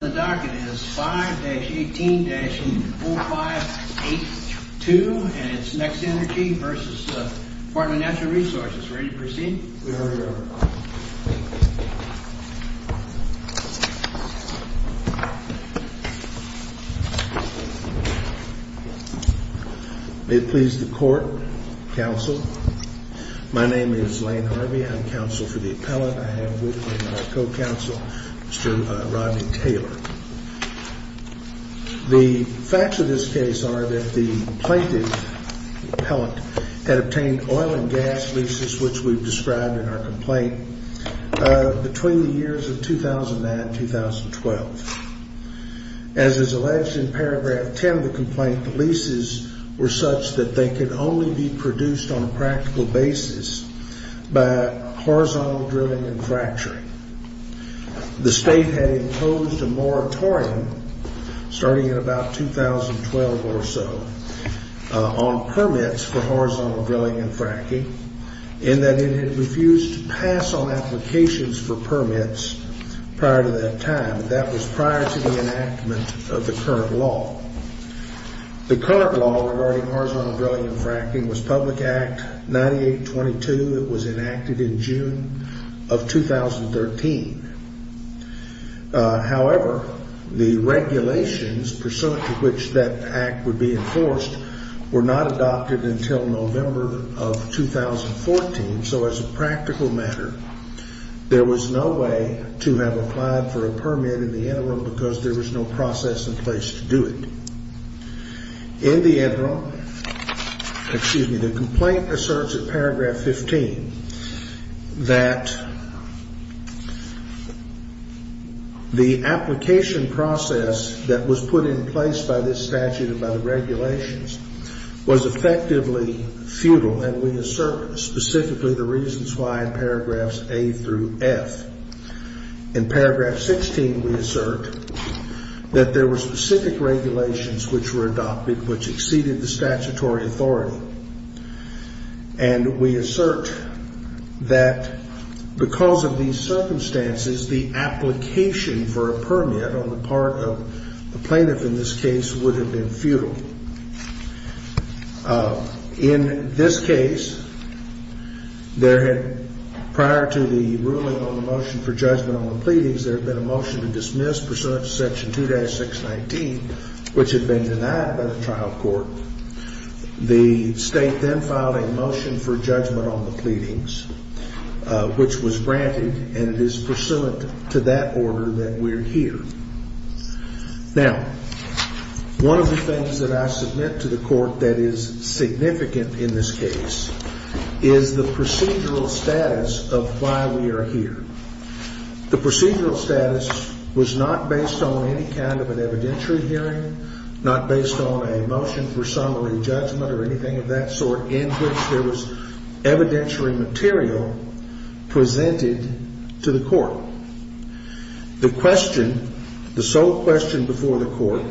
The docket is 5-18-4582, and it's Next Energy v. Dept. of Natural Resources. Ready to proceed? We are, Your Honor. May it please the Court, Counsel. My name is Lane Harvey. I'm counsel for the appellant. I have with me my co-counsel, Mr. Rodney Taylor. The facts of this case are that the plaintiff, the appellant, had obtained oil and gas leases, which we've described in our complaint, between the years of 2009-2012. As is alleged in paragraph 10 of the complaint, the leases were such that they could only be produced on a practical basis by horizontal drilling and fracturing. The State had imposed a moratorium, starting in about 2012 or so, on permits for horizontal drilling and fracking, in that it had refused to pass on applications for permits prior to that time. That was prior to the enactment of the current law. The current law regarding horizontal drilling and fracking was Public Act 9822. It was enacted in June of 2013. However, the regulations pursuant to which that act would be enforced were not adopted until November of 2014. So as a practical matter, there was no way to have applied for a permit in the interim because there was no process in place to do it. In the interim, excuse me, the complaint asserts in paragraph 15 that the application process that was put in place by this statute and by the regulations was effectively futile, and we assert specifically the reasons why in paragraphs A through F. In paragraph 16, we assert that there were specific regulations which were adopted which exceeded the statutory authority, and we assert that because of these circumstances, the application for a permit on the part of the plaintiff in this case would have been futile. In this case, prior to the ruling on the motion for judgment on the pleadings, there had been a motion to dismiss pursuant to section 2-619, which had been denied by the trial court. The state then filed a motion for judgment on the pleadings, which was granted, and it is pursuant to that order that we're here. Now, one of the things that I submit to the court that is significant in this case is the procedural status of why we are here. The procedural status was not based on any kind of an evidentiary hearing, not based on a motion for summary judgment or anything of that sort in which there was evidentiary material presented to the court. The question, the sole question before the court,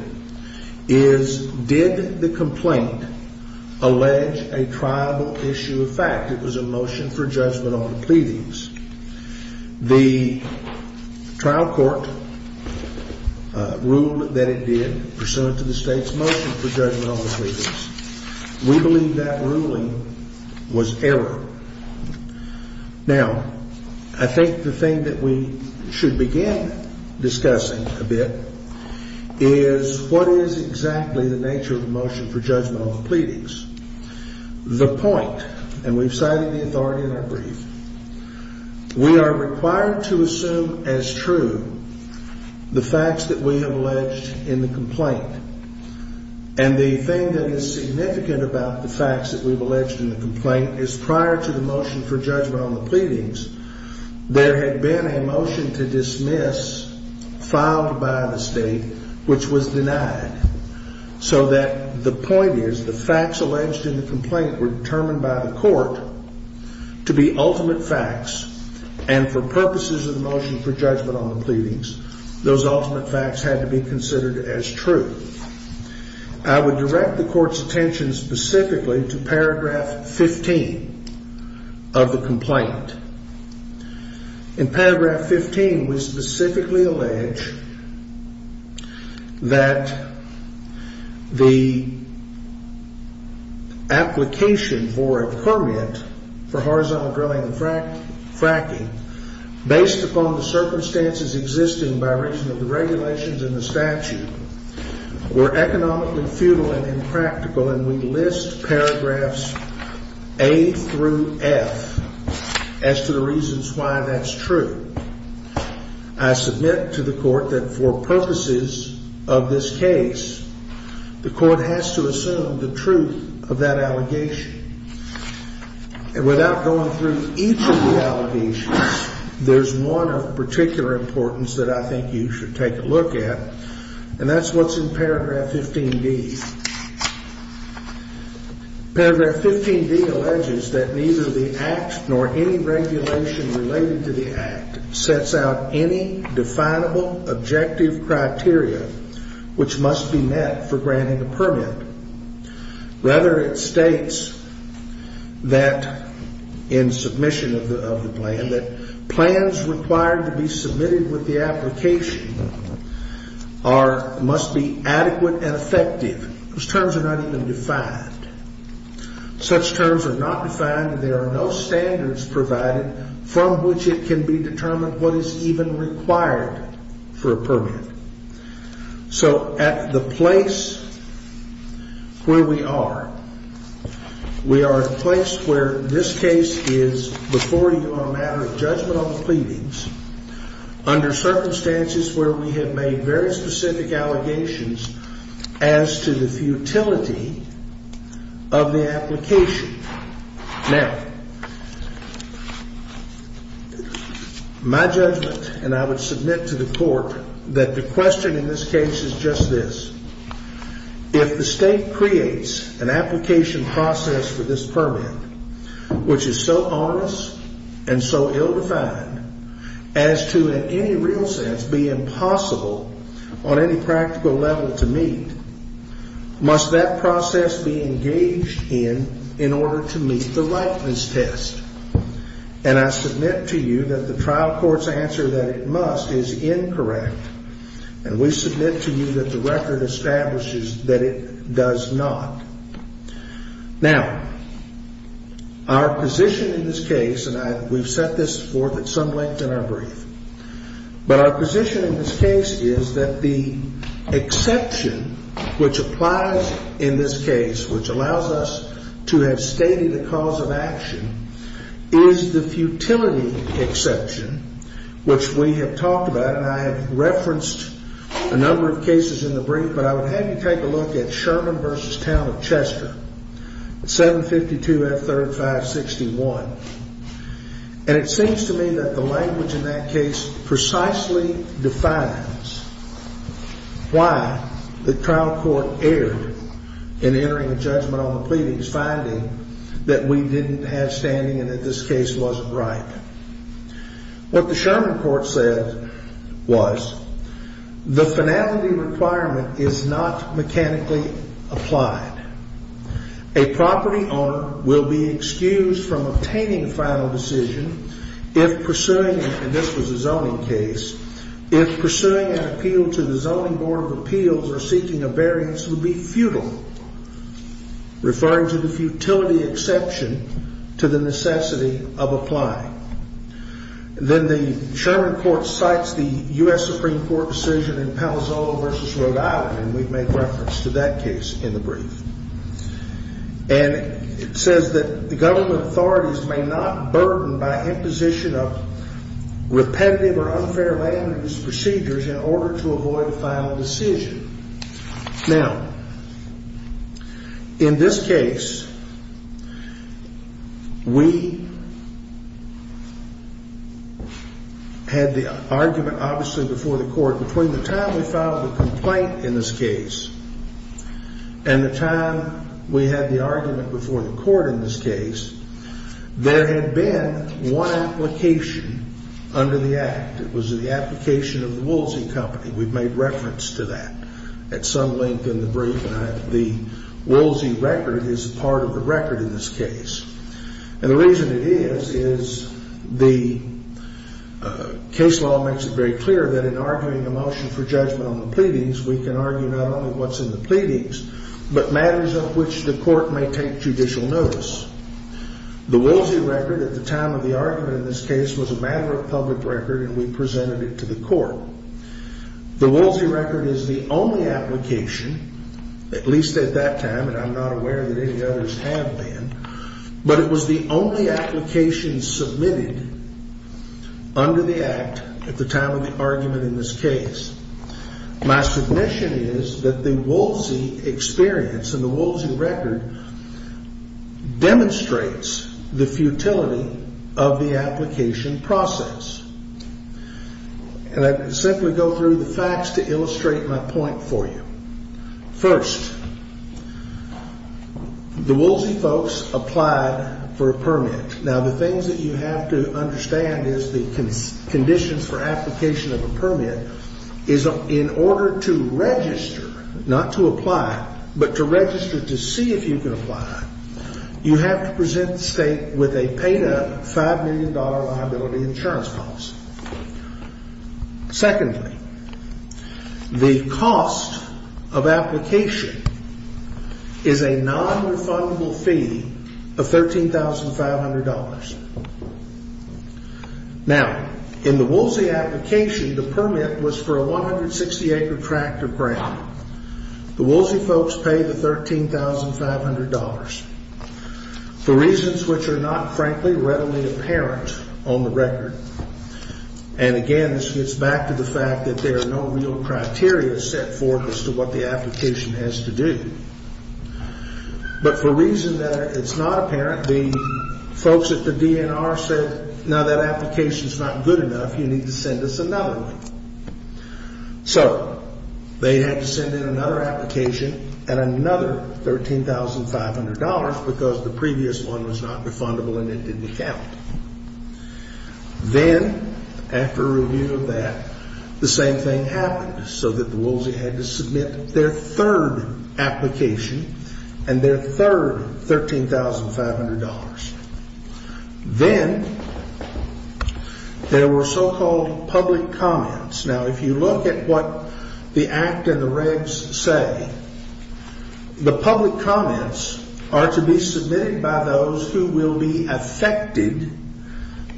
is did the complaint allege a tribal issue of fact? It was a motion for judgment on the pleadings. The trial court ruled that it did pursuant to the state's motion for judgment on the pleadings. We believe that ruling was error. Now, I think the thing that we should begin discussing a bit is what is exactly the nature of the motion for judgment on the pleadings. The point, and we've cited the authority in our brief, we are required to assume as true the facts that we have alleged in the complaint. And the thing that is significant about the facts that we've alleged in the complaint is prior to the motion for judgment on the pleadings, there had been a motion to dismiss filed by the state which was denied. So that the point is the facts alleged in the complaint were determined by the court to be ultimate facts, and for purposes of the motion for judgment on the pleadings, those ultimate facts had to be considered as true. I would direct the court's attention specifically to paragraph 15 of the complaint. In paragraph 15, we specifically allege that the application for a permit for horizontal drilling and fracking, based upon the circumstances existing by reason of the regulations in the statute, were economically futile and impractical, and we list paragraphs A through F as to the reasons why that's true. I submit to the court that for purposes of this case, the court has to assume the truth of that allegation. And without going through each of the allegations, there's one of particular importance that I think you should take a look at, and that's what's in paragraph 15D. Paragraph 15D alleges that neither the Act nor any regulation related to the Act sets out any definable objective criteria which must be met for granting a permit. Rather, it states that, in submission of the plan, that plans required to be submitted with the application must be adequate and effective. Those terms are not even defined. Such terms are not defined, and there are no standards provided from which it can be determined what is even required for a permit. So at the place where we are, we are at a place where this case is before you on a matter of judgment on the pleadings, under circumstances where we have made very specific allegations as to the futility of the application. Now, my judgment, and I would submit to the court that the question in this case is just this. If the state creates an application process for this permit, which is so honest and so ill-defined, as to in any real sense be impossible on any practical level to meet, must that process be engaged in in order to meet the likeness test? And I submit to you that the trial court's answer that it must is incorrect, and we submit to you that the record establishes that it does not. Now, our position in this case, and we've set this forth at some length in our brief, but our position in this case is that the exception which applies in this case, which allows us to have stated a cause of action, is the futility exception, which we have talked about, and I have referenced a number of cases in the brief, but I would have you take a look at Sherman v. Town of Chester, 752F3561. And it seems to me that the language in that case precisely defines why the trial court erred in entering a judgment on the pleadings, finding that we didn't have standing and that this case wasn't right. What the Sherman court said was the finality requirement is not mechanically applied. A property owner will be excused from obtaining a final decision if pursuing, and this was a zoning case, if pursuing an appeal to the Zoning Board of Appeals or seeking a variance would be futile, referring to the futility exception to the necessity of applying. Then the Sherman court cites the U.S. Supreme Court decision in Palo Alto v. Rhode Island, and we've made reference to that case in the brief. And it says that the government authorities may not burden by imposition of repetitive or unfair land use procedures in order to avoid a final decision. Now, in this case, we had the argument, obviously, before the court, but between the time we filed the complaint in this case and the time we had the argument before the court in this case, there had been one application under the Act. It was the application of the Woolsey Company. We've made reference to that at some length in the brief, and the Woolsey record is part of the record in this case. And the reason it is is the case law makes it very clear that in arguing a motion for judgment on the pleadings, we can argue not only what's in the pleadings, but matters of which the court may take judicial notice. The Woolsey record at the time of the argument in this case was a matter of public record, and we presented it to the court. The Woolsey record is the only application, at least at that time, and I'm not aware that any others have been, but it was the only application submitted under the Act at the time of the argument in this case. My submission is that the Woolsey experience and the Woolsey record demonstrates the futility of the application process. And I simply go through the facts to illustrate my point for you. First, the Woolsey folks applied for a permit. Now, the things that you have to understand is the conditions for application of a permit is in order to register, not to apply, but to register to see if you can apply, you have to present the state with a paid-up $5 million liability insurance policy. Secondly, the cost of application is a non-refundable fee of $13,500. Now, in the Woolsey application, the permit was for a 160-acre tract of ground. The Woolsey folks pay the $13,500 for reasons which are not, frankly, readily apparent on the record. And again, this gets back to the fact that there are no real criteria set forth as to what the application has to do. But for reasons that it's not apparent, the folks at the DNR said, now that application's not good enough, you need to send us another one. So they had to send in another application and another $13,500 because the previous one was not refundable and it didn't count. Then, after review of that, the same thing happened, so that the Woolsey had to submit their third application and their third $13,500. Then there were so-called public comments. Now, if you look at what the Act and the regs say, the public comments are to be submitted by those who will be affected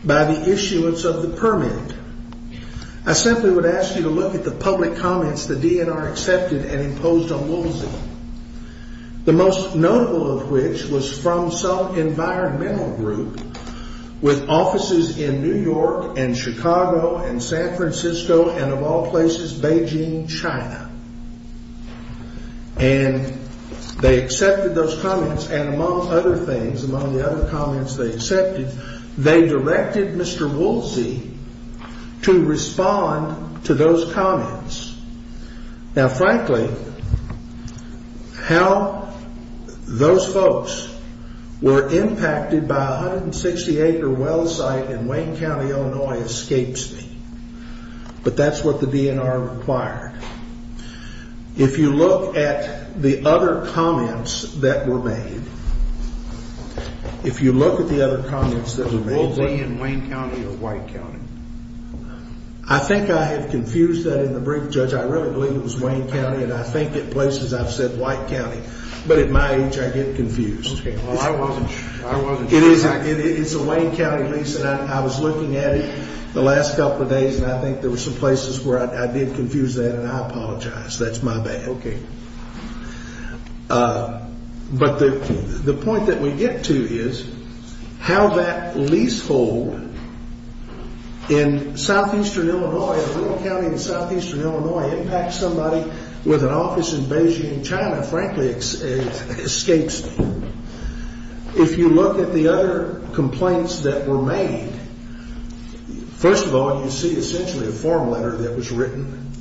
by the issuance of the permit. I simply would ask you to look at the public comments the DNR accepted and imposed on Woolsey, the most notable of which was from some environmental group with offices in New York and Chicago and San Francisco and, of all places, Beijing, China. And they accepted those comments, and among other things, among the other comments they accepted, they directed Mr. Woolsey to respond to those comments. Now, frankly, how those folks were impacted by a 160-acre well site in Wayne County, Illinois, escapes me. But that's what the DNR required. If you look at the other comments that were made, if you look at the other comments that were made. Was Woolsey in Wayne County or White County? I think I have confused that in the brief, Judge. I really believe it was Wayne County, and I think at places I've said White County. But at my age, I get confused. Okay. Well, I wasn't sure. It's a Wayne County lease, and I was looking at it the last couple of days, and I think there were some places where I did confuse that, and I apologize. That's my bad. Okay. But the point that we get to is how that leasehold in southeastern Illinois, in a little county in southeastern Illinois, impacts somebody with an office in Beijing, China. Frankly, it escapes me. If you look at the other complaints that were made, first of all, you see essentially a form letter that was written,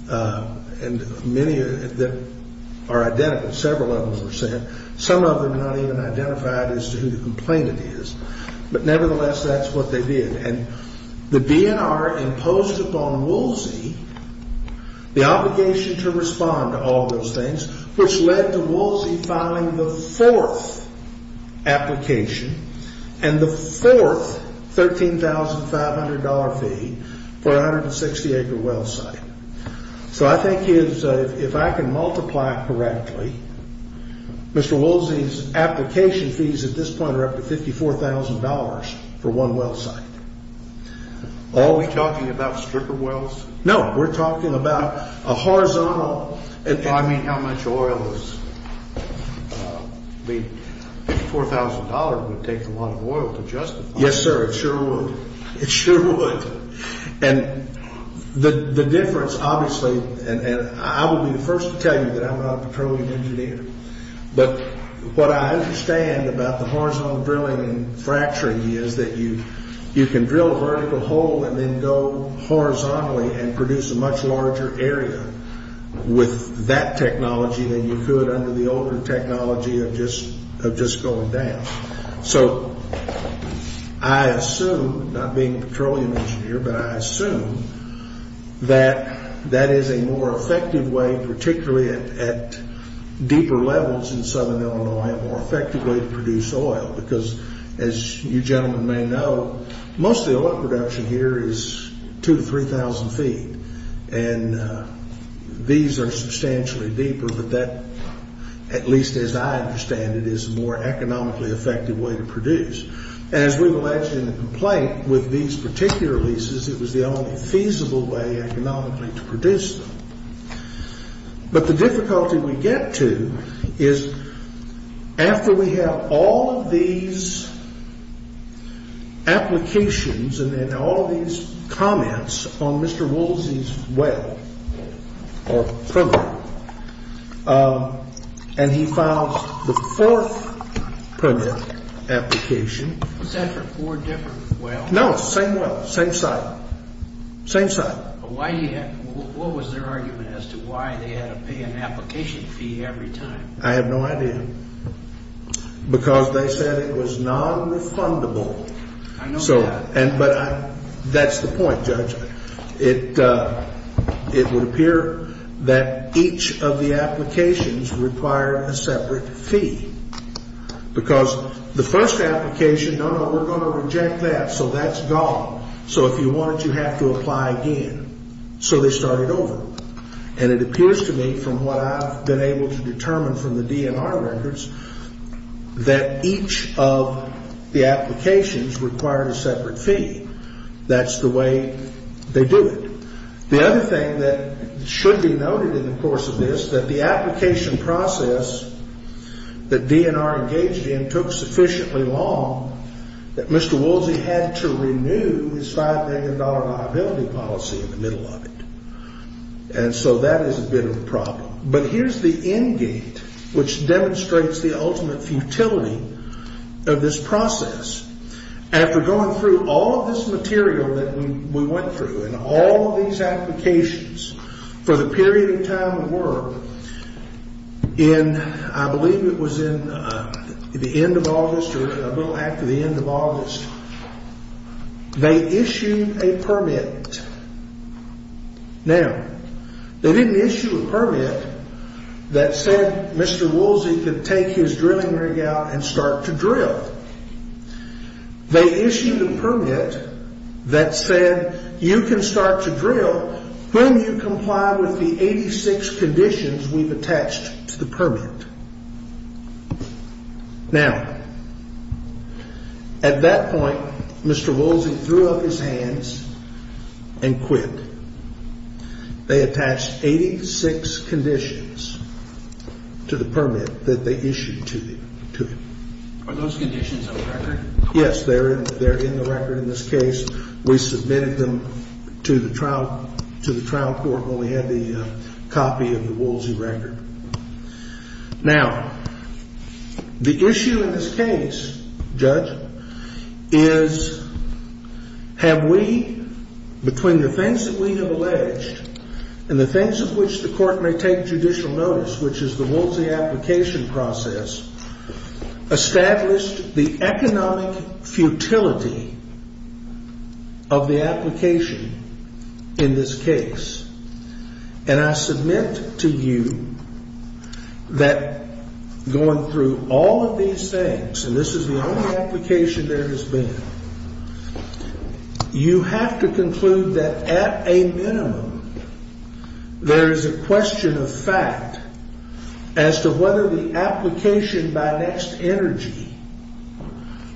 and many of them are identical. Several of them were sent. Some of them are not even identified as to who the complainant is. But nevertheless, that's what they did. And the DNR imposed upon Woolsey the obligation to respond to all those things, which led to Woolsey filing the fourth application and the fourth $13,500 fee for a 160-acre well site. So I think if I can multiply correctly, Mr. Woolsey's application fees at this point are up to $54,000 for one well site. Are we talking about stripper wells? No, we're talking about a horizontal. I mean, how much oil is $54,000 would take a lot of oil to justify. Yes, sir, it sure would. It sure would. And the difference, obviously, and I will be the first to tell you that I'm not a petroleum engineer, but what I understand about the horizontal drilling and fracturing is that you can drill a vertical hole and then go horizontally and produce a much larger area with that technology than you could under the older technology of just going down. So I assume, not being a petroleum engineer, but I assume that that is a more effective way, particularly at deeper levels in southern Illinois, a more effective way to produce oil. Because as you gentlemen may know, most of the oil production here is 2,000 to 3,000 feet. And these are substantially deeper, but that, at least as I understand it, is a more economically effective way to produce. And as we've alleged in the complaint with these particular leases, it was the only feasible way economically to produce them. But the difficulty we get to is after we have all of these applications and then all of these comments on Mr. Woolsey's well or permit, and he files the fourth permit application. Was that for four different wells? No, same well, same site, same site. What was their argument as to why they had to pay an application fee every time? I have no idea. Because they said it was nonrefundable. I know that. But that's the point, Judge. It would appear that each of the applications require a separate fee. Because the first application, no, no, we're going to reject that, so that's gone. So if you want it, you have to apply again. So they started over. And it appears to me, from what I've been able to determine from the DNR records, that each of the applications required a separate fee. That's the way they do it. The other thing that should be noted in the course of this, that the application process that DNR engaged in took sufficiently long that Mr. Woolsey had to renew his $5 million liability policy in the middle of it. And so that is a bit of a problem. But here's the end gate, which demonstrates the ultimate futility of this process. After going through all of this material that we went through and all of these applications, for the period of time they were in, I believe it was in the end of August or a little after the end of August, they issued a permit. Now, they didn't issue a permit that said Mr. Woolsey could take his drilling rig out and start to drill. They issued a permit that said you can start to drill when you comply with the 86 conditions we've attached to the permit. Now, at that point, Mr. Woolsey threw up his hands and quit. They attached 86 conditions to the permit that they issued to him. Are those conditions on record? Yes, they're in the record in this case. We submitted them to the trial court when we had the copy of the Woolsey record. Now, the issue in this case, Judge, is have we, between the things that we have alleged and the things of which the court may take judicial notice, which is the Woolsey application process, established the economic futility of the application in this case? And I submit to you that going through all of these things, and this is the only application there has been, you have to conclude that at a minimum, there is a question of fact as to whether the application by Next Energy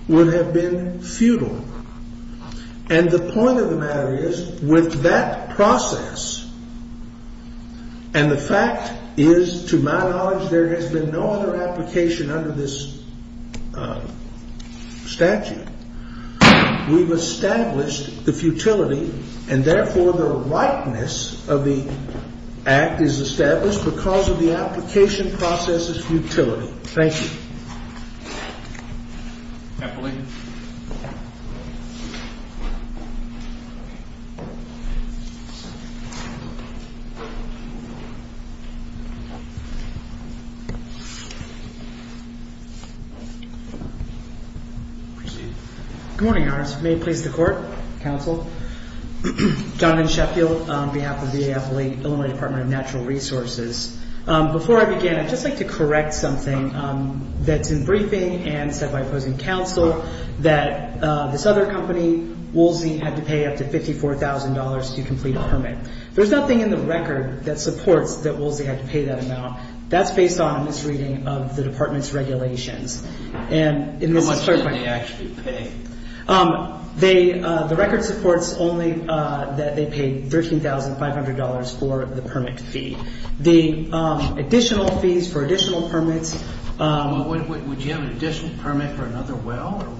would have been futile. And the point of the matter is, with that process, and the fact is, to my knowledge, there has been no other application under this statute. We've established the futility, and therefore the rightness of the act is established because of the application process's futility. Thank you. Appellee. Good morning, Your Honor. May it please the court, counsel. Jonathan Sheffield on behalf of the VA Appellee, Illinois Department of Natural Resources. Before I begin, I'd just like to correct something that's in briefing and said by opposing counsel, that this other company, Woolsey, had to pay up to $54,000 to complete a permit. There's nothing in the record that supports that Woolsey had to pay that amount. That's based on a misreading of the Department's regulations. And in this case, the record supports only that they paid $13,500 for the permit fee. The additional fees for additional permits. Would you have an additional permit for another well?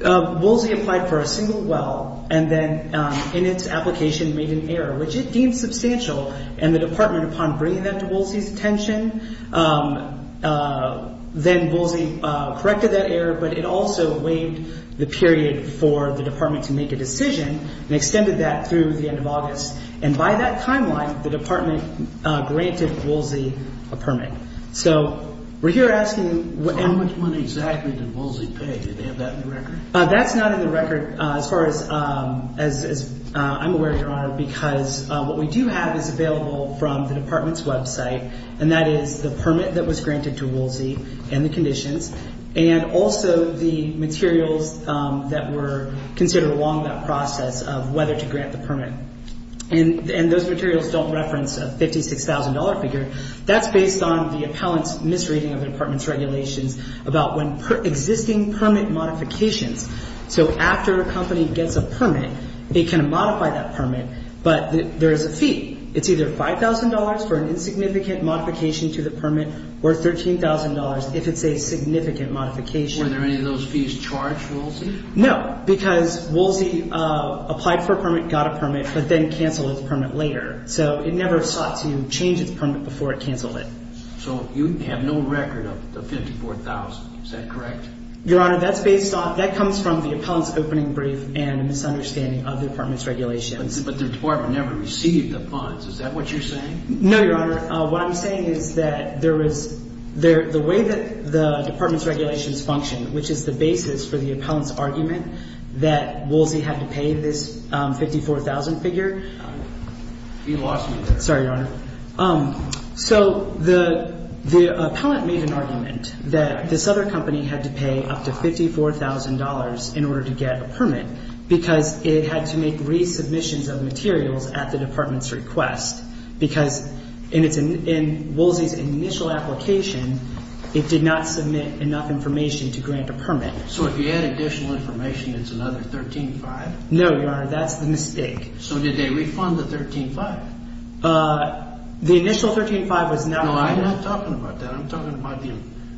Woolsey applied for a single well, and then in its application made an error, which it deemed substantial. And the Department, upon bringing that to Woolsey's attention, then Woolsey corrected that error, but it also waived the period for the Department to make a decision and extended that through the end of August. And by that timeline, the Department granted Woolsey a permit. So we're here asking- How much money exactly did Woolsey pay? Did they have that in the record? That's not in the record as far as I'm aware, Your Honor, because what we do have is available from the Department's website, and that is the permit that was granted to Woolsey and the conditions, and also the materials that were considered along that process of whether to grant the permit. And those materials don't reference a $56,000 figure. That's based on the appellant's misreading of the Department's regulations about existing permit modifications. So after a company gets a permit, they can modify that permit, but there is a fee. It's either $5,000 for an insignificant modification to the permit or $13,000 if it's a significant modification. Were there any of those fees charged to Woolsey? No, because Woolsey applied for a permit, got a permit, but then canceled its permit later. So it never sought to change its permit before it canceled it. So you have no record of the $54,000. Is that correct? Your Honor, that's based on-that comes from the appellant's opening brief and a misunderstanding of the Department's regulations. But the Department never received the funds. Is that what you're saying? No, Your Honor. What I'm saying is that there was-the way that the Department's regulations function, which is the basis for the appellant's argument that Woolsey had to pay this $54,000 figure- You lost me there. Sorry, Your Honor. So the appellant made an argument that this other company had to pay up to $54,000 in order to get a permit because it had to make resubmissions of materials at the Department's request because in Woolsey's initial application, it did not submit enough information to grant a permit. So if you add additional information, it's another $13,500? No, Your Honor. That's the mistake. So did they refund the $13,500? The initial $13,500 was not- No, I'm not talking about that. I'm talking about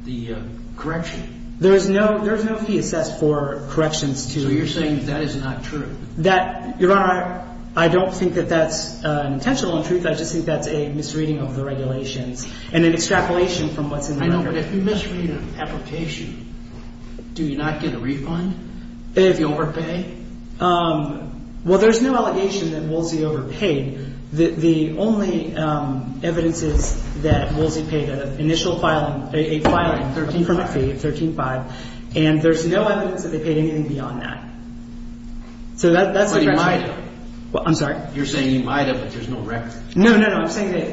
the correction. There is no fee assessed for corrections to- So you're saying that that is not true? That-Your Honor, I don't think that that's an intentional untruth. I just think that's a misreading of the regulations and an extrapolation from what's in the record. I know, but if you misread an application, do you not get a refund if you overpay? Well, there's no allegation that Woolsey overpaid. The only evidence is that Woolsey paid an initial filing, a filing, $13,500 fee, $13,500, and there's no evidence that they paid anything beyond that. So that's a- But he might have. I'm sorry? You're saying he might have, but there's no record. No, no, no.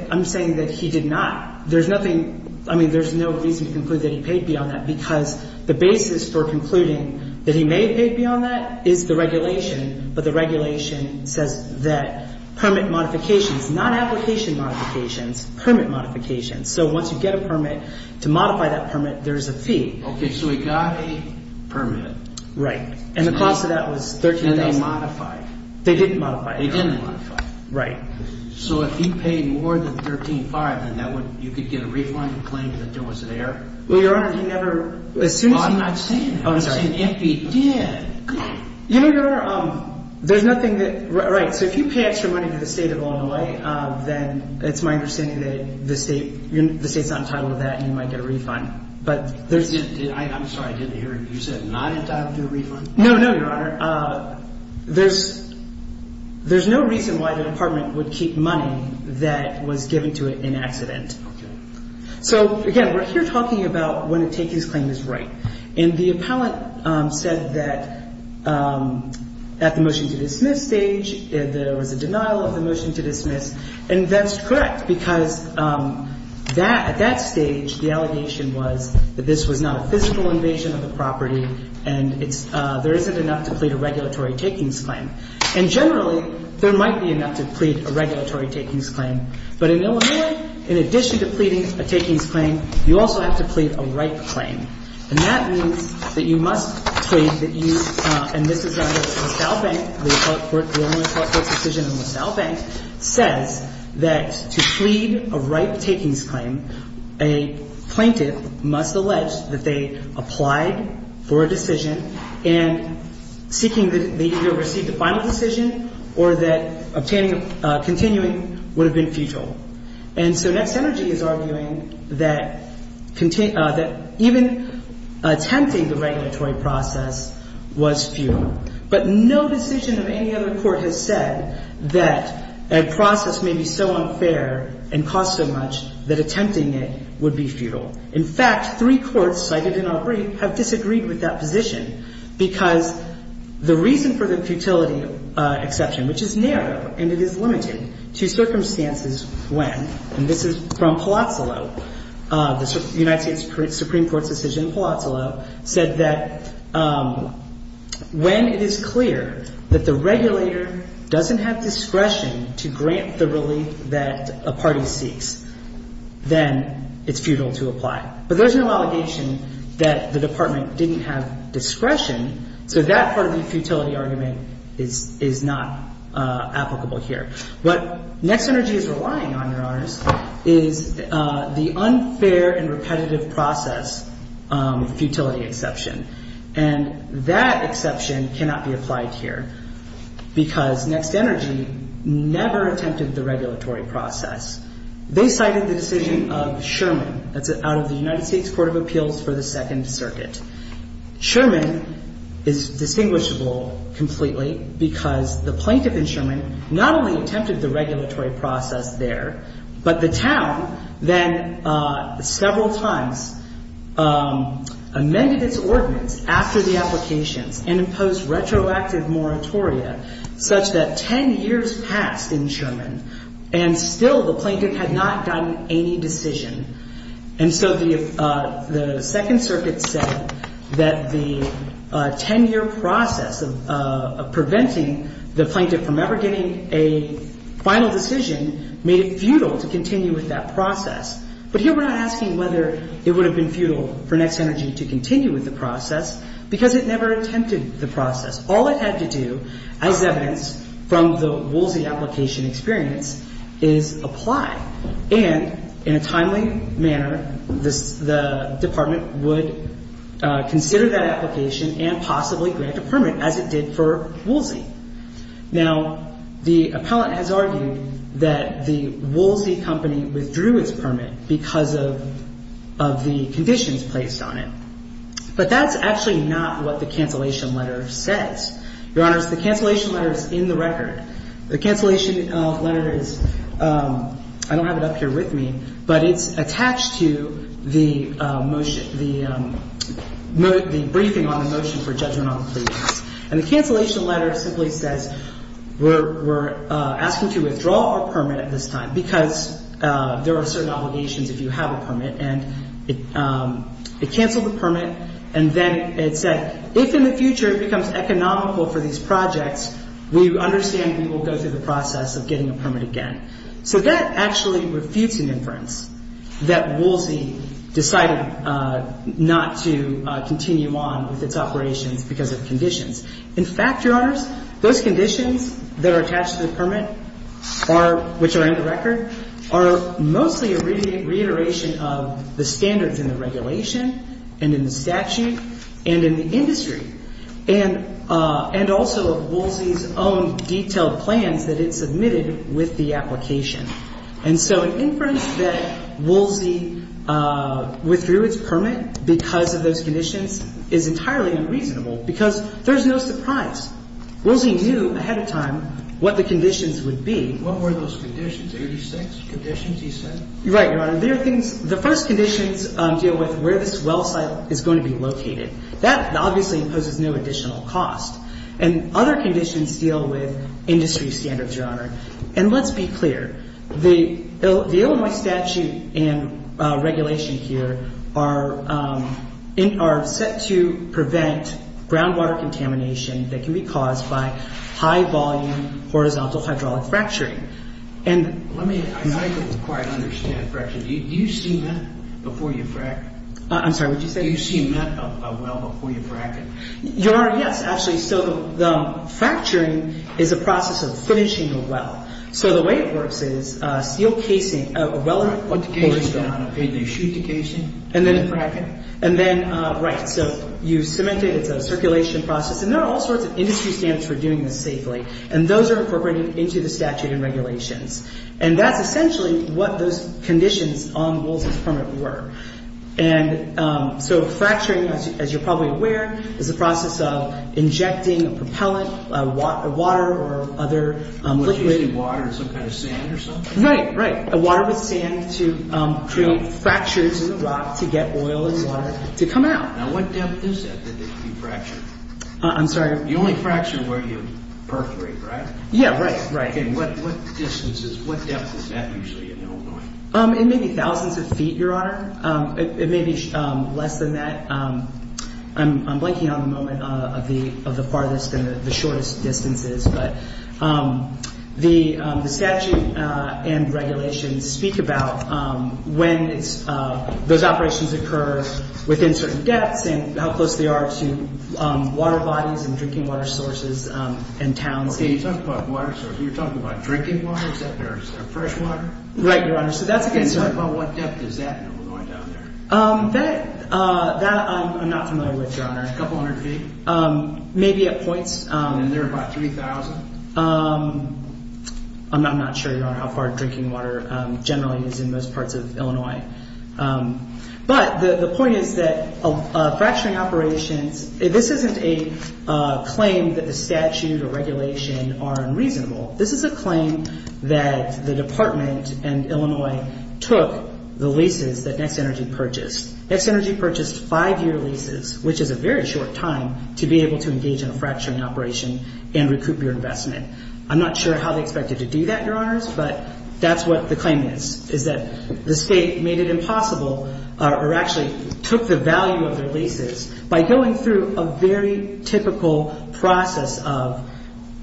I'm saying that he did not. There's nothing-I mean, there's no reason to conclude that he paid beyond that because the basis for concluding that he may have paid beyond that is the regulation, but the regulation says that permit modifications, not application modifications, permit modifications. So once you get a permit, to modify that permit, there's a fee. Okay. So he got a permit. Right, and the cost of that was $13,000. And they modified. They didn't modify it. They didn't modify it. Right. So if he paid more than $13,500, then you could get a refund and claim that there was an error? Well, Your Honor, he never- Well, I'm not saying that. Oh, I'm sorry. I'm saying if he did- You know, Your Honor, there's nothing that-right. So if you pay extra money to the State of Illinois, then it's my understanding that the State's not entitled to that and you might get a refund, but there's- I'm sorry, I didn't hear it. You said not entitled to a refund? No, no, Your Honor. There's no reason why the Department would keep money that was given to it in accident. Okay. So, again, we're here talking about when to take his claim as right. And the appellant said that at the motion to dismiss stage, there was a denial of the motion to dismiss, and that's correct, because that-at that stage, the allegation was that this was not a physical invasion of the property and it's-there isn't enough to plead a regulatory takings claim. And generally, there might be enough to plead a regulatory takings claim. But in Illinois, in addition to pleading a takings claim, you also have to plead a right claim. And that means that you must plead that you-and this is under LaSalle Bank. The Illinois Court of Appeals decision in LaSalle Bank says that to plead a right takings claim, a plaintiff must allege that they applied for a decision and seeking-they either received a final decision or that obtaining-continuing would have been futile. And so Next Energy is arguing that even attempting the regulatory process was futile. But no decision of any other court has said that a process may be so unfair and cost so much that attempting it would be futile. In fact, three courts cited in our brief have disagreed with that position because the reason for the futility exception, which is narrow and it is limited to circumstances when, and this is from Palazzolo, the United States Supreme Court's decision in Palazzolo, said that when it is clear that the regulator doesn't have discretion to grant the relief that a party seeks, then it's futile to apply. But there's no allegation that the Department didn't have discretion, so that part of the futility argument is not applicable here. What Next Energy is relying on, Your Honors, is the unfair and repetitive process futility exception. And that exception cannot be applied here because Next Energy never attempted the regulatory process. They cited the decision of Sherman. That's out of the United States Court of Appeals for the Second Circuit. Sherman is distinguishable completely because the plaintiff in Sherman not only attempted the regulatory process there, but the town then several times amended its ordinance after the applications and imposed retroactive moratoria such that 10 years passed in Sherman, and still the plaintiff had not gotten any decision. And so the Second Circuit said that the 10-year process of preventing the plaintiff from ever getting a final decision made it futile to continue with that process. But here we're not asking whether it would have been futile for Next Energy to continue with the process because it never attempted the process. All it had to do, as evidenced from the Woolsey application experience, is apply. And in a timely manner, the department would consider that application and possibly grant a permit, as it did for Woolsey. Now, the appellant has argued that the Woolsey company withdrew its permit because of the conditions placed on it. But that's actually not what the cancellation letter says. Your Honors, the cancellation letter is in the record. The cancellation letter is ‑‑ I don't have it up here with me, but it's attached to the briefing on the motion for judgment on the plaintiffs. And the cancellation letter simply says we're asking to withdraw our permit at this time because there are certain obligations if you have a permit. And it canceled the permit, and then it said if in the future it becomes economical for these projects, we understand we will go through the process of getting a permit again. So that actually refutes an inference that Woolsey decided not to continue on with its operations because of conditions. In fact, Your Honors, those conditions that are attached to the permit, which are in the record, are mostly a reiteration of the standards in the regulation and in the statute and in the industry and also of Woolsey's own detailed plans that it submitted with the application. And so an inference that Woolsey withdrew its permit because of those conditions is entirely unreasonable because there's no surprise. Woolsey knew ahead of time what the conditions would be. What were those conditions, 86 conditions he said? Right, Your Honor. The first conditions deal with where this well site is going to be located. That obviously imposes no additional cost. And other conditions deal with industry standards, Your Honor. And let's be clear. The Illinois statute and regulation here are set to prevent groundwater contamination that can be caused by high-volume horizontal hydraulic fracturing. Let me, I'm not able to quite understand fracturing. Do you see that before you fracture? I'm sorry, what did you say? Do you see a well before you fracture? Your Honor, yes, actually. So the fracturing is a process of finishing the well. So the way it works is a steel casing, a well- What the casing is going to look like? Do they shoot the casing? And then the fracture? And then, right, so you cement it. It's a circulation process. And there are all sorts of industry standards for doing this safely. And those are incorporated into the statute and regulations. And that's essentially what those conditions on Woolsey's permit were. And so fracturing, as you're probably aware, is a process of injecting a propellant, water or other liquid- Would you say water or some kind of sand or something? Right, right. Water with sand to create fractures in the rock to get oil and water to come out. Now what depth is that that you fractured? I'm sorry? You only fracture where you perforate, right? Yeah, right, right. And what distance is, what depth is that usually in Illinois? It may be thousands of feet, Your Honor. It may be less than that. I'm blanking on the moment of the farthest and the shortest distances. But the statute and regulations speak about when those operations occur within certain depths and how close they are to water bodies and drinking water sources and towns. Okay, you're talking about drinking water, except there's fresh water? Right, Your Honor. So that's a concern. Can you talk about what depth is that in Illinois down there? That I'm not familiar with, Your Honor. A couple hundred feet? Maybe at points. And there are about 3,000? I'm not sure, Your Honor, how far drinking water generally is in most parts of Illinois. But the point is that fracturing operations, this isn't a claim that the statute or regulation are unreasonable. This is a claim that the Department and Illinois took the leases that Next Energy purchased. Next Energy purchased five-year leases, which is a very short time to be able to engage in a fracturing operation and recoup your investment. I'm not sure how they expected to do that, Your Honors, but that's what the claim is, is that the state made it impossible or actually took the value of their leases by going through a very typical process of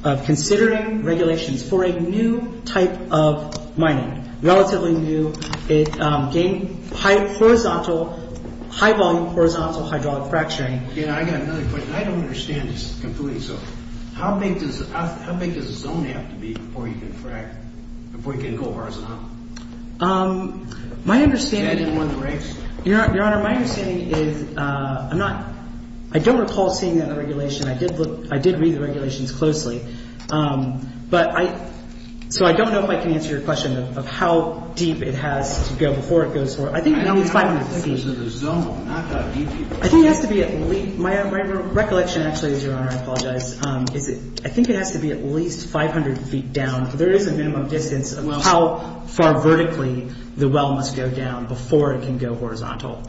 considering regulations for a new type of mining, relatively new. It gained high-volume horizontal hydraulic fracturing. I've got another question. I don't understand this completely. So how big does a zone have to be before you can go horizontal? That didn't win the race? Your Honor, my understanding is I'm not – I don't recall seeing that in the regulation. I did look – I did read the regulations closely. But I – so I don't know if I can answer your question of how deep it has to go before it goes horizontal. I think at least 500 feet. I don't think there's a zone. I'm not that deep. I think it has to be at least – my recollection, actually, is, Your Honor, I apologize, is I think it has to be at least 500 feet down. There is a minimum distance of how far vertically the well must go down before it can go horizontal.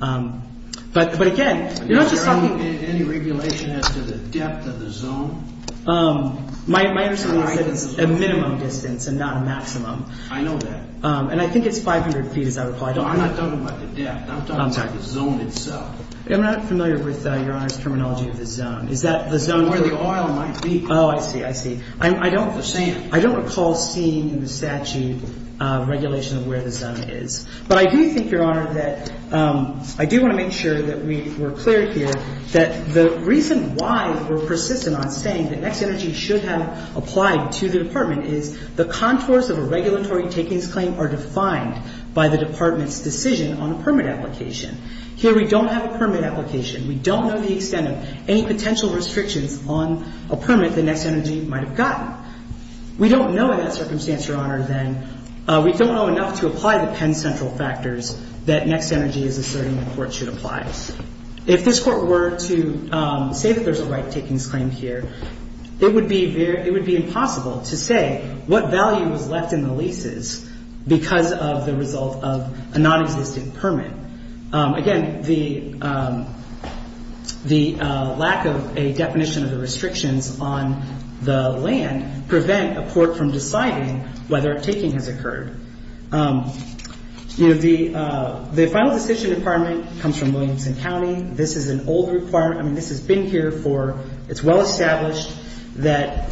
But, again, you're not just talking – Is there any regulation as to the depth of the zone? My understanding is that it's a minimum distance and not a maximum. I know that. And I think it's 500 feet, as I recall. I don't – I'm not talking about the depth. I'm talking about the zone itself. I'm not familiar with Your Honor's terminology of the zone. Is that the zone – Where the oil might be. Oh, I see. I see. I don't recall seeing in the statute regulation of where the zone is. But I do think, Your Honor, that – I do want to make sure that we're clear here, that the reason why we're persistent on saying that Next Energy should have applied to the Department is the contours of a regulatory takings claim are defined by the Department's decision on a permit application. Here we don't have a permit application. We don't know the extent of any potential restrictions on a permit that Next Energy might have gotten. We don't know in that circumstance, Your Honor, then – we don't know enough to apply the Penn Central factors that Next Energy is asserting the Court should apply. If this Court were to say that there's a right-takings claim here, it would be impossible to say what value was left in the leases because of the result of a nonexistent permit. Again, the lack of a definition of the restrictions on the land prevent a court from deciding whether a taking has occurred. The Final Decision Department comes from Williamson County. This is an old requirement. I mean, this has been here for – it's well established that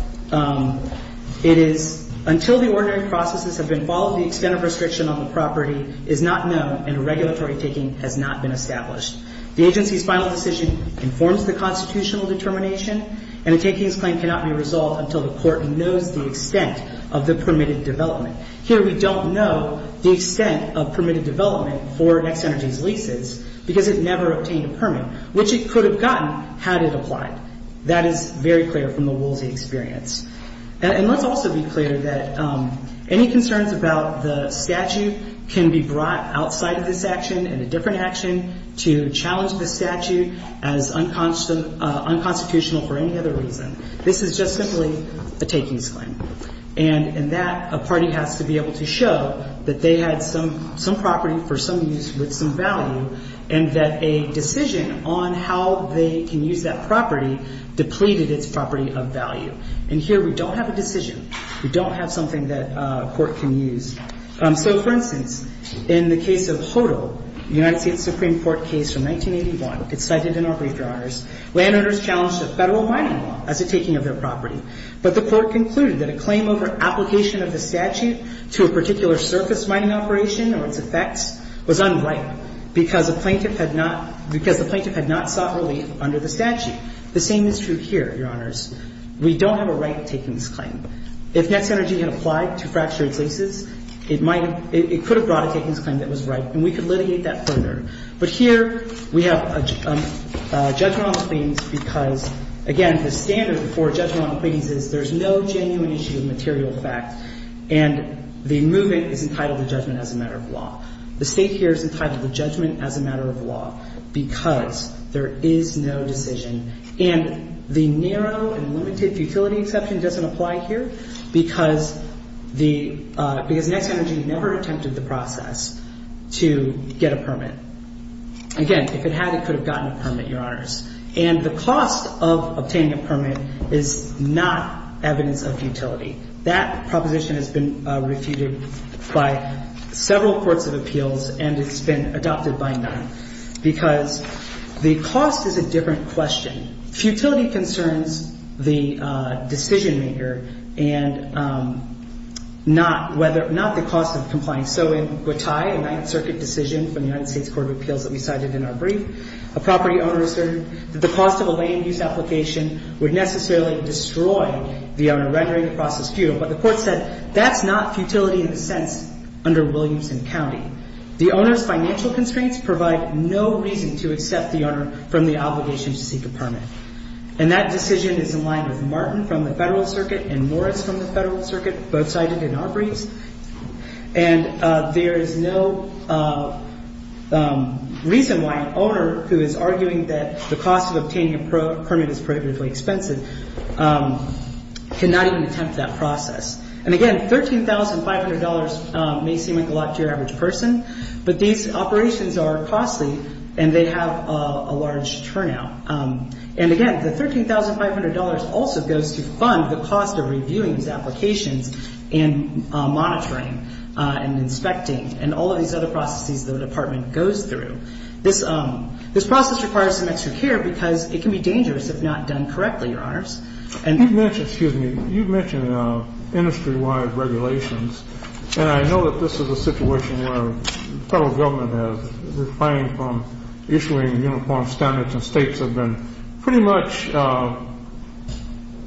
it is – until the ordinary processes have been followed, the extent of restriction on the property is not known and a regulatory taking has not been established. The agency's Final Decision informs the constitutional determination, and a takings claim cannot be resolved until the Court knows the extent of the permitted development. Here we don't know the extent of permitted development for Next Energy's leases because it never obtained a permit, which it could have gotten had it applied. That is very clear from the Woolsey experience. And let's also be clear that any concerns about the statute can be brought outside of this action in a different action to challenge the statute as unconstitutional for any other reason. This is just simply a takings claim. And in that, a party has to be able to show that they had some property for some use with some value and that a decision on how they can use that property depleted its property of value. And here we don't have a decision. We don't have something that a court can use. So, for instance, in the case of HODL, the United States Supreme Court case from 1981, it's cited in our brief, Your Honors. Landowners challenged a federal mining law as a taking of their property, but the Court concluded that a claim over application of the statute to a particular surface mining operation or its effects was unright because the plaintiff had not sought relief under the statute. The same is true here, Your Honors. We don't have a right takings claim. If Net Centrgy had applied to fracture its leases, it might have – it could have brought a takings claim that was right, and we could litigate that further. But here we have a judgment on the claims because, again, the standard for judgment on the claims is there's no genuine issue of material fact, and the movement is entitled to judgment as a matter of law. The State here is entitled to judgment as a matter of law because there is no decision. And the narrow and limited futility exception doesn't apply here because the – because Net Centrgy never attempted the process to get a permit. Again, if it had, it could have gotten a permit, Your Honors. And the cost of obtaining a permit is not evidence of futility. That proposition has been refuted by several courts of appeals, and it's been adopted by none because the cost is a different question. Futility concerns the decision-maker and not whether – not the cost of compliance. So in Gautai, a Ninth Circuit decision from the United States Court of Appeals that we cited in our brief, a property owner asserted that the cost of a land use application would necessarily destroy the owner rendering the process futile. But the court said that's not futility in a sense under Williamson County. The owner's financial constraints provide no reason to accept the owner from the obligation to seek a permit. And that decision is in line with Martin from the Federal Circuit and Morris from the Federal Circuit, both cited in our briefs. And there is no reason why an owner who is arguing that the cost of obtaining a permit is prohibitively expensive cannot even attempt that process. And again, $13,500 may seem like a lot to your average person, but these operations are costly and they have a large turnout. And again, the $13,500 also goes to fund the cost of reviewing these applications and monitoring and inspecting and all of these other processes the Department goes through. This process requires some extra care because it can be dangerous if not done correctly, Your Honors. Excuse me. You mentioned industry-wide regulations, and I know that this is a situation where the Federal Government has refrained from issuing uniform standards and states have been pretty much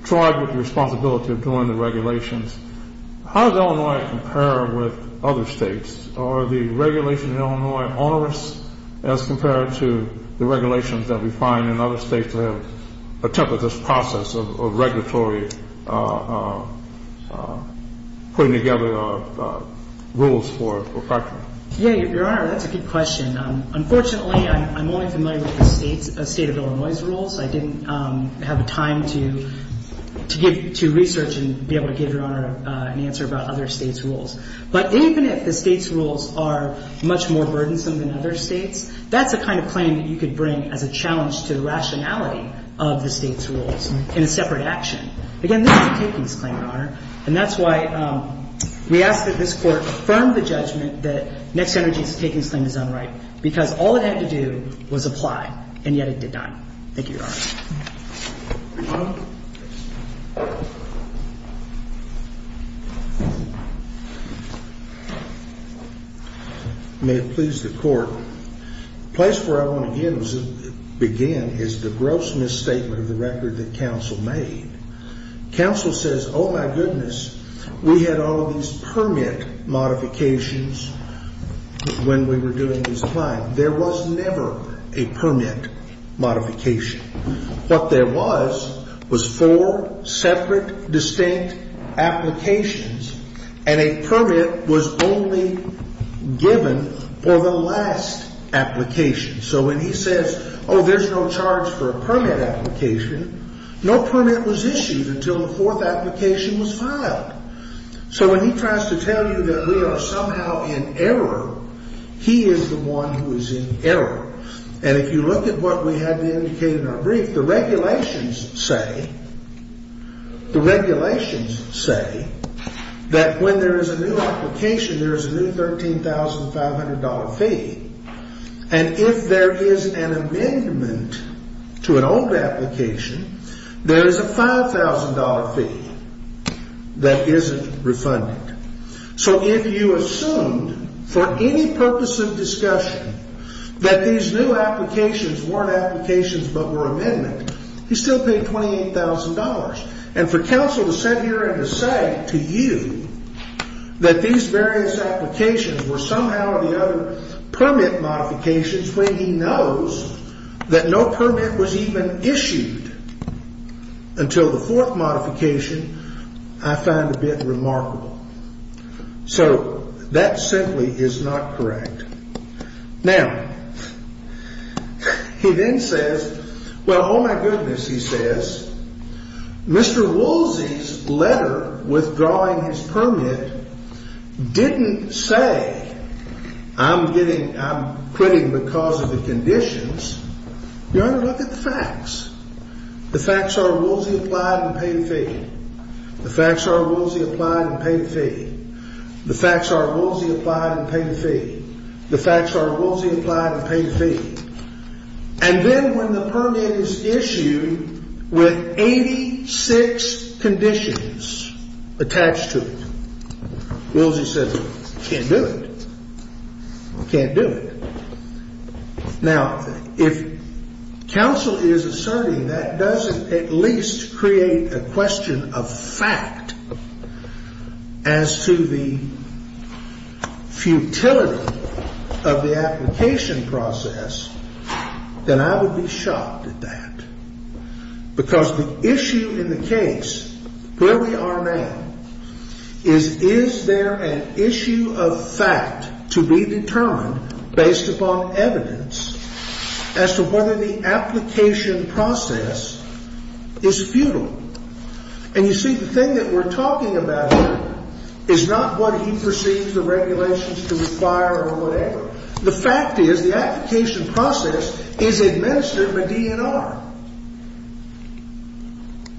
tried with the responsibility of doing the regulations. How does Illinois compare with other states? Are the regulations in Illinois onerous as compared to the regulations that we find in other states that have attempted this process of regulatory putting together rules for practice? Yeah, Your Honor, that's a good question. Unfortunately, I'm only familiar with the state of Illinois' rules. I didn't have the time to give to research and be able to give Your Honor an answer about other states' rules. But even if the states' rules are much more burdensome than other states, that's the kind of claim that you could bring as a challenge to the rationality of the states' rules in a separate action. Again, this is a takings claim, Your Honor, and that's why we ask that this Court affirm the judgment that Next Energy's takings claim is unright because all it had to do was apply, and yet it did not. Thank you, Your Honor. Your Honor? May it please the Court, the place where I want to begin is the gross misstatement of the record that counsel made. Counsel says, oh, my goodness, we had all of these permit modifications when we were doing these claims. There was never a permit modification. What there was was four separate distinct applications, and a permit was only given for the last application. So when he says, oh, there's no charge for a permit application, no permit was issued until the fourth application was filed. So when he tries to tell you that we are somehow in error, he is the one who is in error. And if you look at what we had indicated in our brief, the regulations say that when there is a new application, there is a new $13,500 fee. And if there is an amendment to an old application, there is a $5,000 fee that isn't refunded. So if you assumed for any purpose of discussion that these new applications weren't applications but were amendments, he still paid $28,000. And for counsel to sit here and to say to you that these various applications were somehow or the other permit modifications when he knows that no permit was even issued until the fourth modification, I find a bit remarkable. So that simply is not correct. Now, he then says, well, oh, my goodness, he says, Mr. Woolsey's letter withdrawing his permit didn't say I'm quitting because of the conditions. Your Honor, look at the facts. The facts are Woolsey applied and paid a fee. The facts are Woolsey applied and paid a fee. The facts are Woolsey applied and paid a fee. The facts are Woolsey applied and paid a fee. And then when the permit is issued with 86 conditions attached to it, Woolsey says, well, I can't do it. I can't do it. Now, if counsel is asserting that doesn't at least create a question of fact as to the futility of the application process, then I would be shocked at that. Because the issue in the case where we are now is, is there an issue of fact to be determined based upon evidence as to whether the application process is futile? And you see, the thing that we're talking about here is not what he perceives the regulations to require or whatever. The fact is the application process is administered by DNR.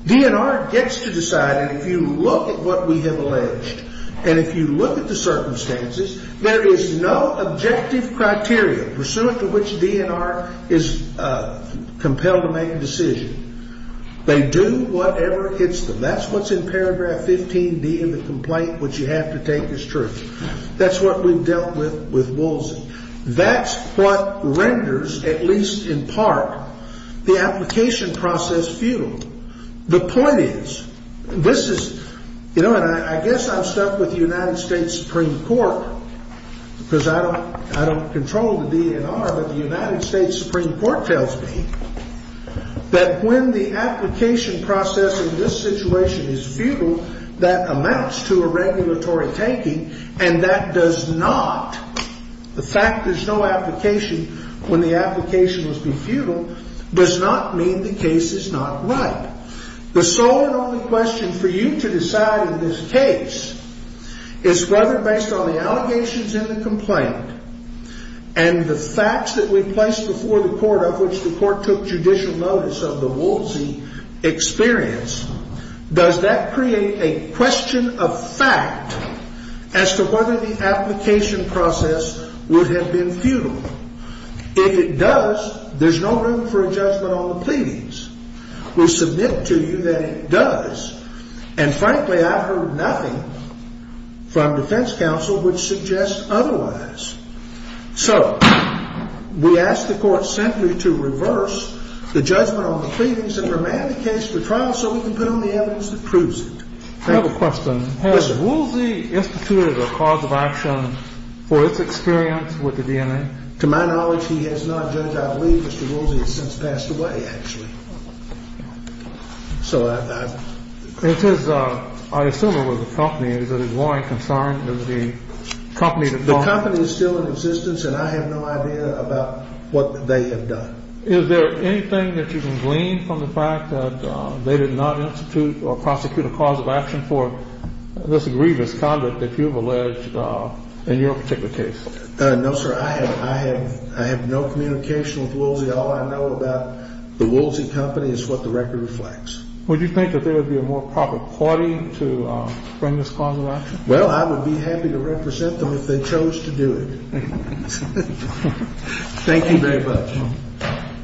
DNR gets to decide, and if you look at what we have alleged, and if you look at the circumstances, there is no objective criteria pursuant to which DNR is compelled to make a decision. They do whatever hits them. That's what's in paragraph 15D of the complaint, which you have to take as truth. That's what renders, at least in part, the application process futile. The point is, this is, you know, and I guess I'm stuck with the United States Supreme Court, because I don't control the DNR, but the United States Supreme Court tells me that when the application process in this situation is futile, that amounts to a regulatory taking, and that does not, the fact there's no application when the application must be futile, does not mean the case is not right. The sole and only question for you to decide in this case is whether, based on the allegations in the complaint and the facts that we place before the court of which the court took judicial notice of the Wolsey experience, does that create a question of fact as to whether the application process would have been futile? If it does, there's no room for a judgment on the pleadings. We submit to you that it does, and frankly, I've heard nothing from defense counsel which suggests otherwise. So we ask the court simply to reverse the judgment on the pleadings and remand the case to trial so we can put on the evidence that proves it. Thank you. I have a question. Listen. Has Wolsey instituted a cause of action for its experience with the DNR? To my knowledge, he has not judged. I believe Mr. Wolsey has since passed away, actually. So I've – It says, I assume it was a company. Is it his lawyer concerned? Does the company – The company is still in existence, and I have no idea about what they have done. Is there anything that you can glean from the fact that they did not institute or prosecute a cause of action for this grievous conduct that you have alleged in your particular case? No, sir. I have no communication with Wolsey. All I know about the Wolsey company is what the record reflects. Would you think that there would be a more proper party to bring this cause of action? Well, I would be happy to represent them if they chose to do it. Thank you very much.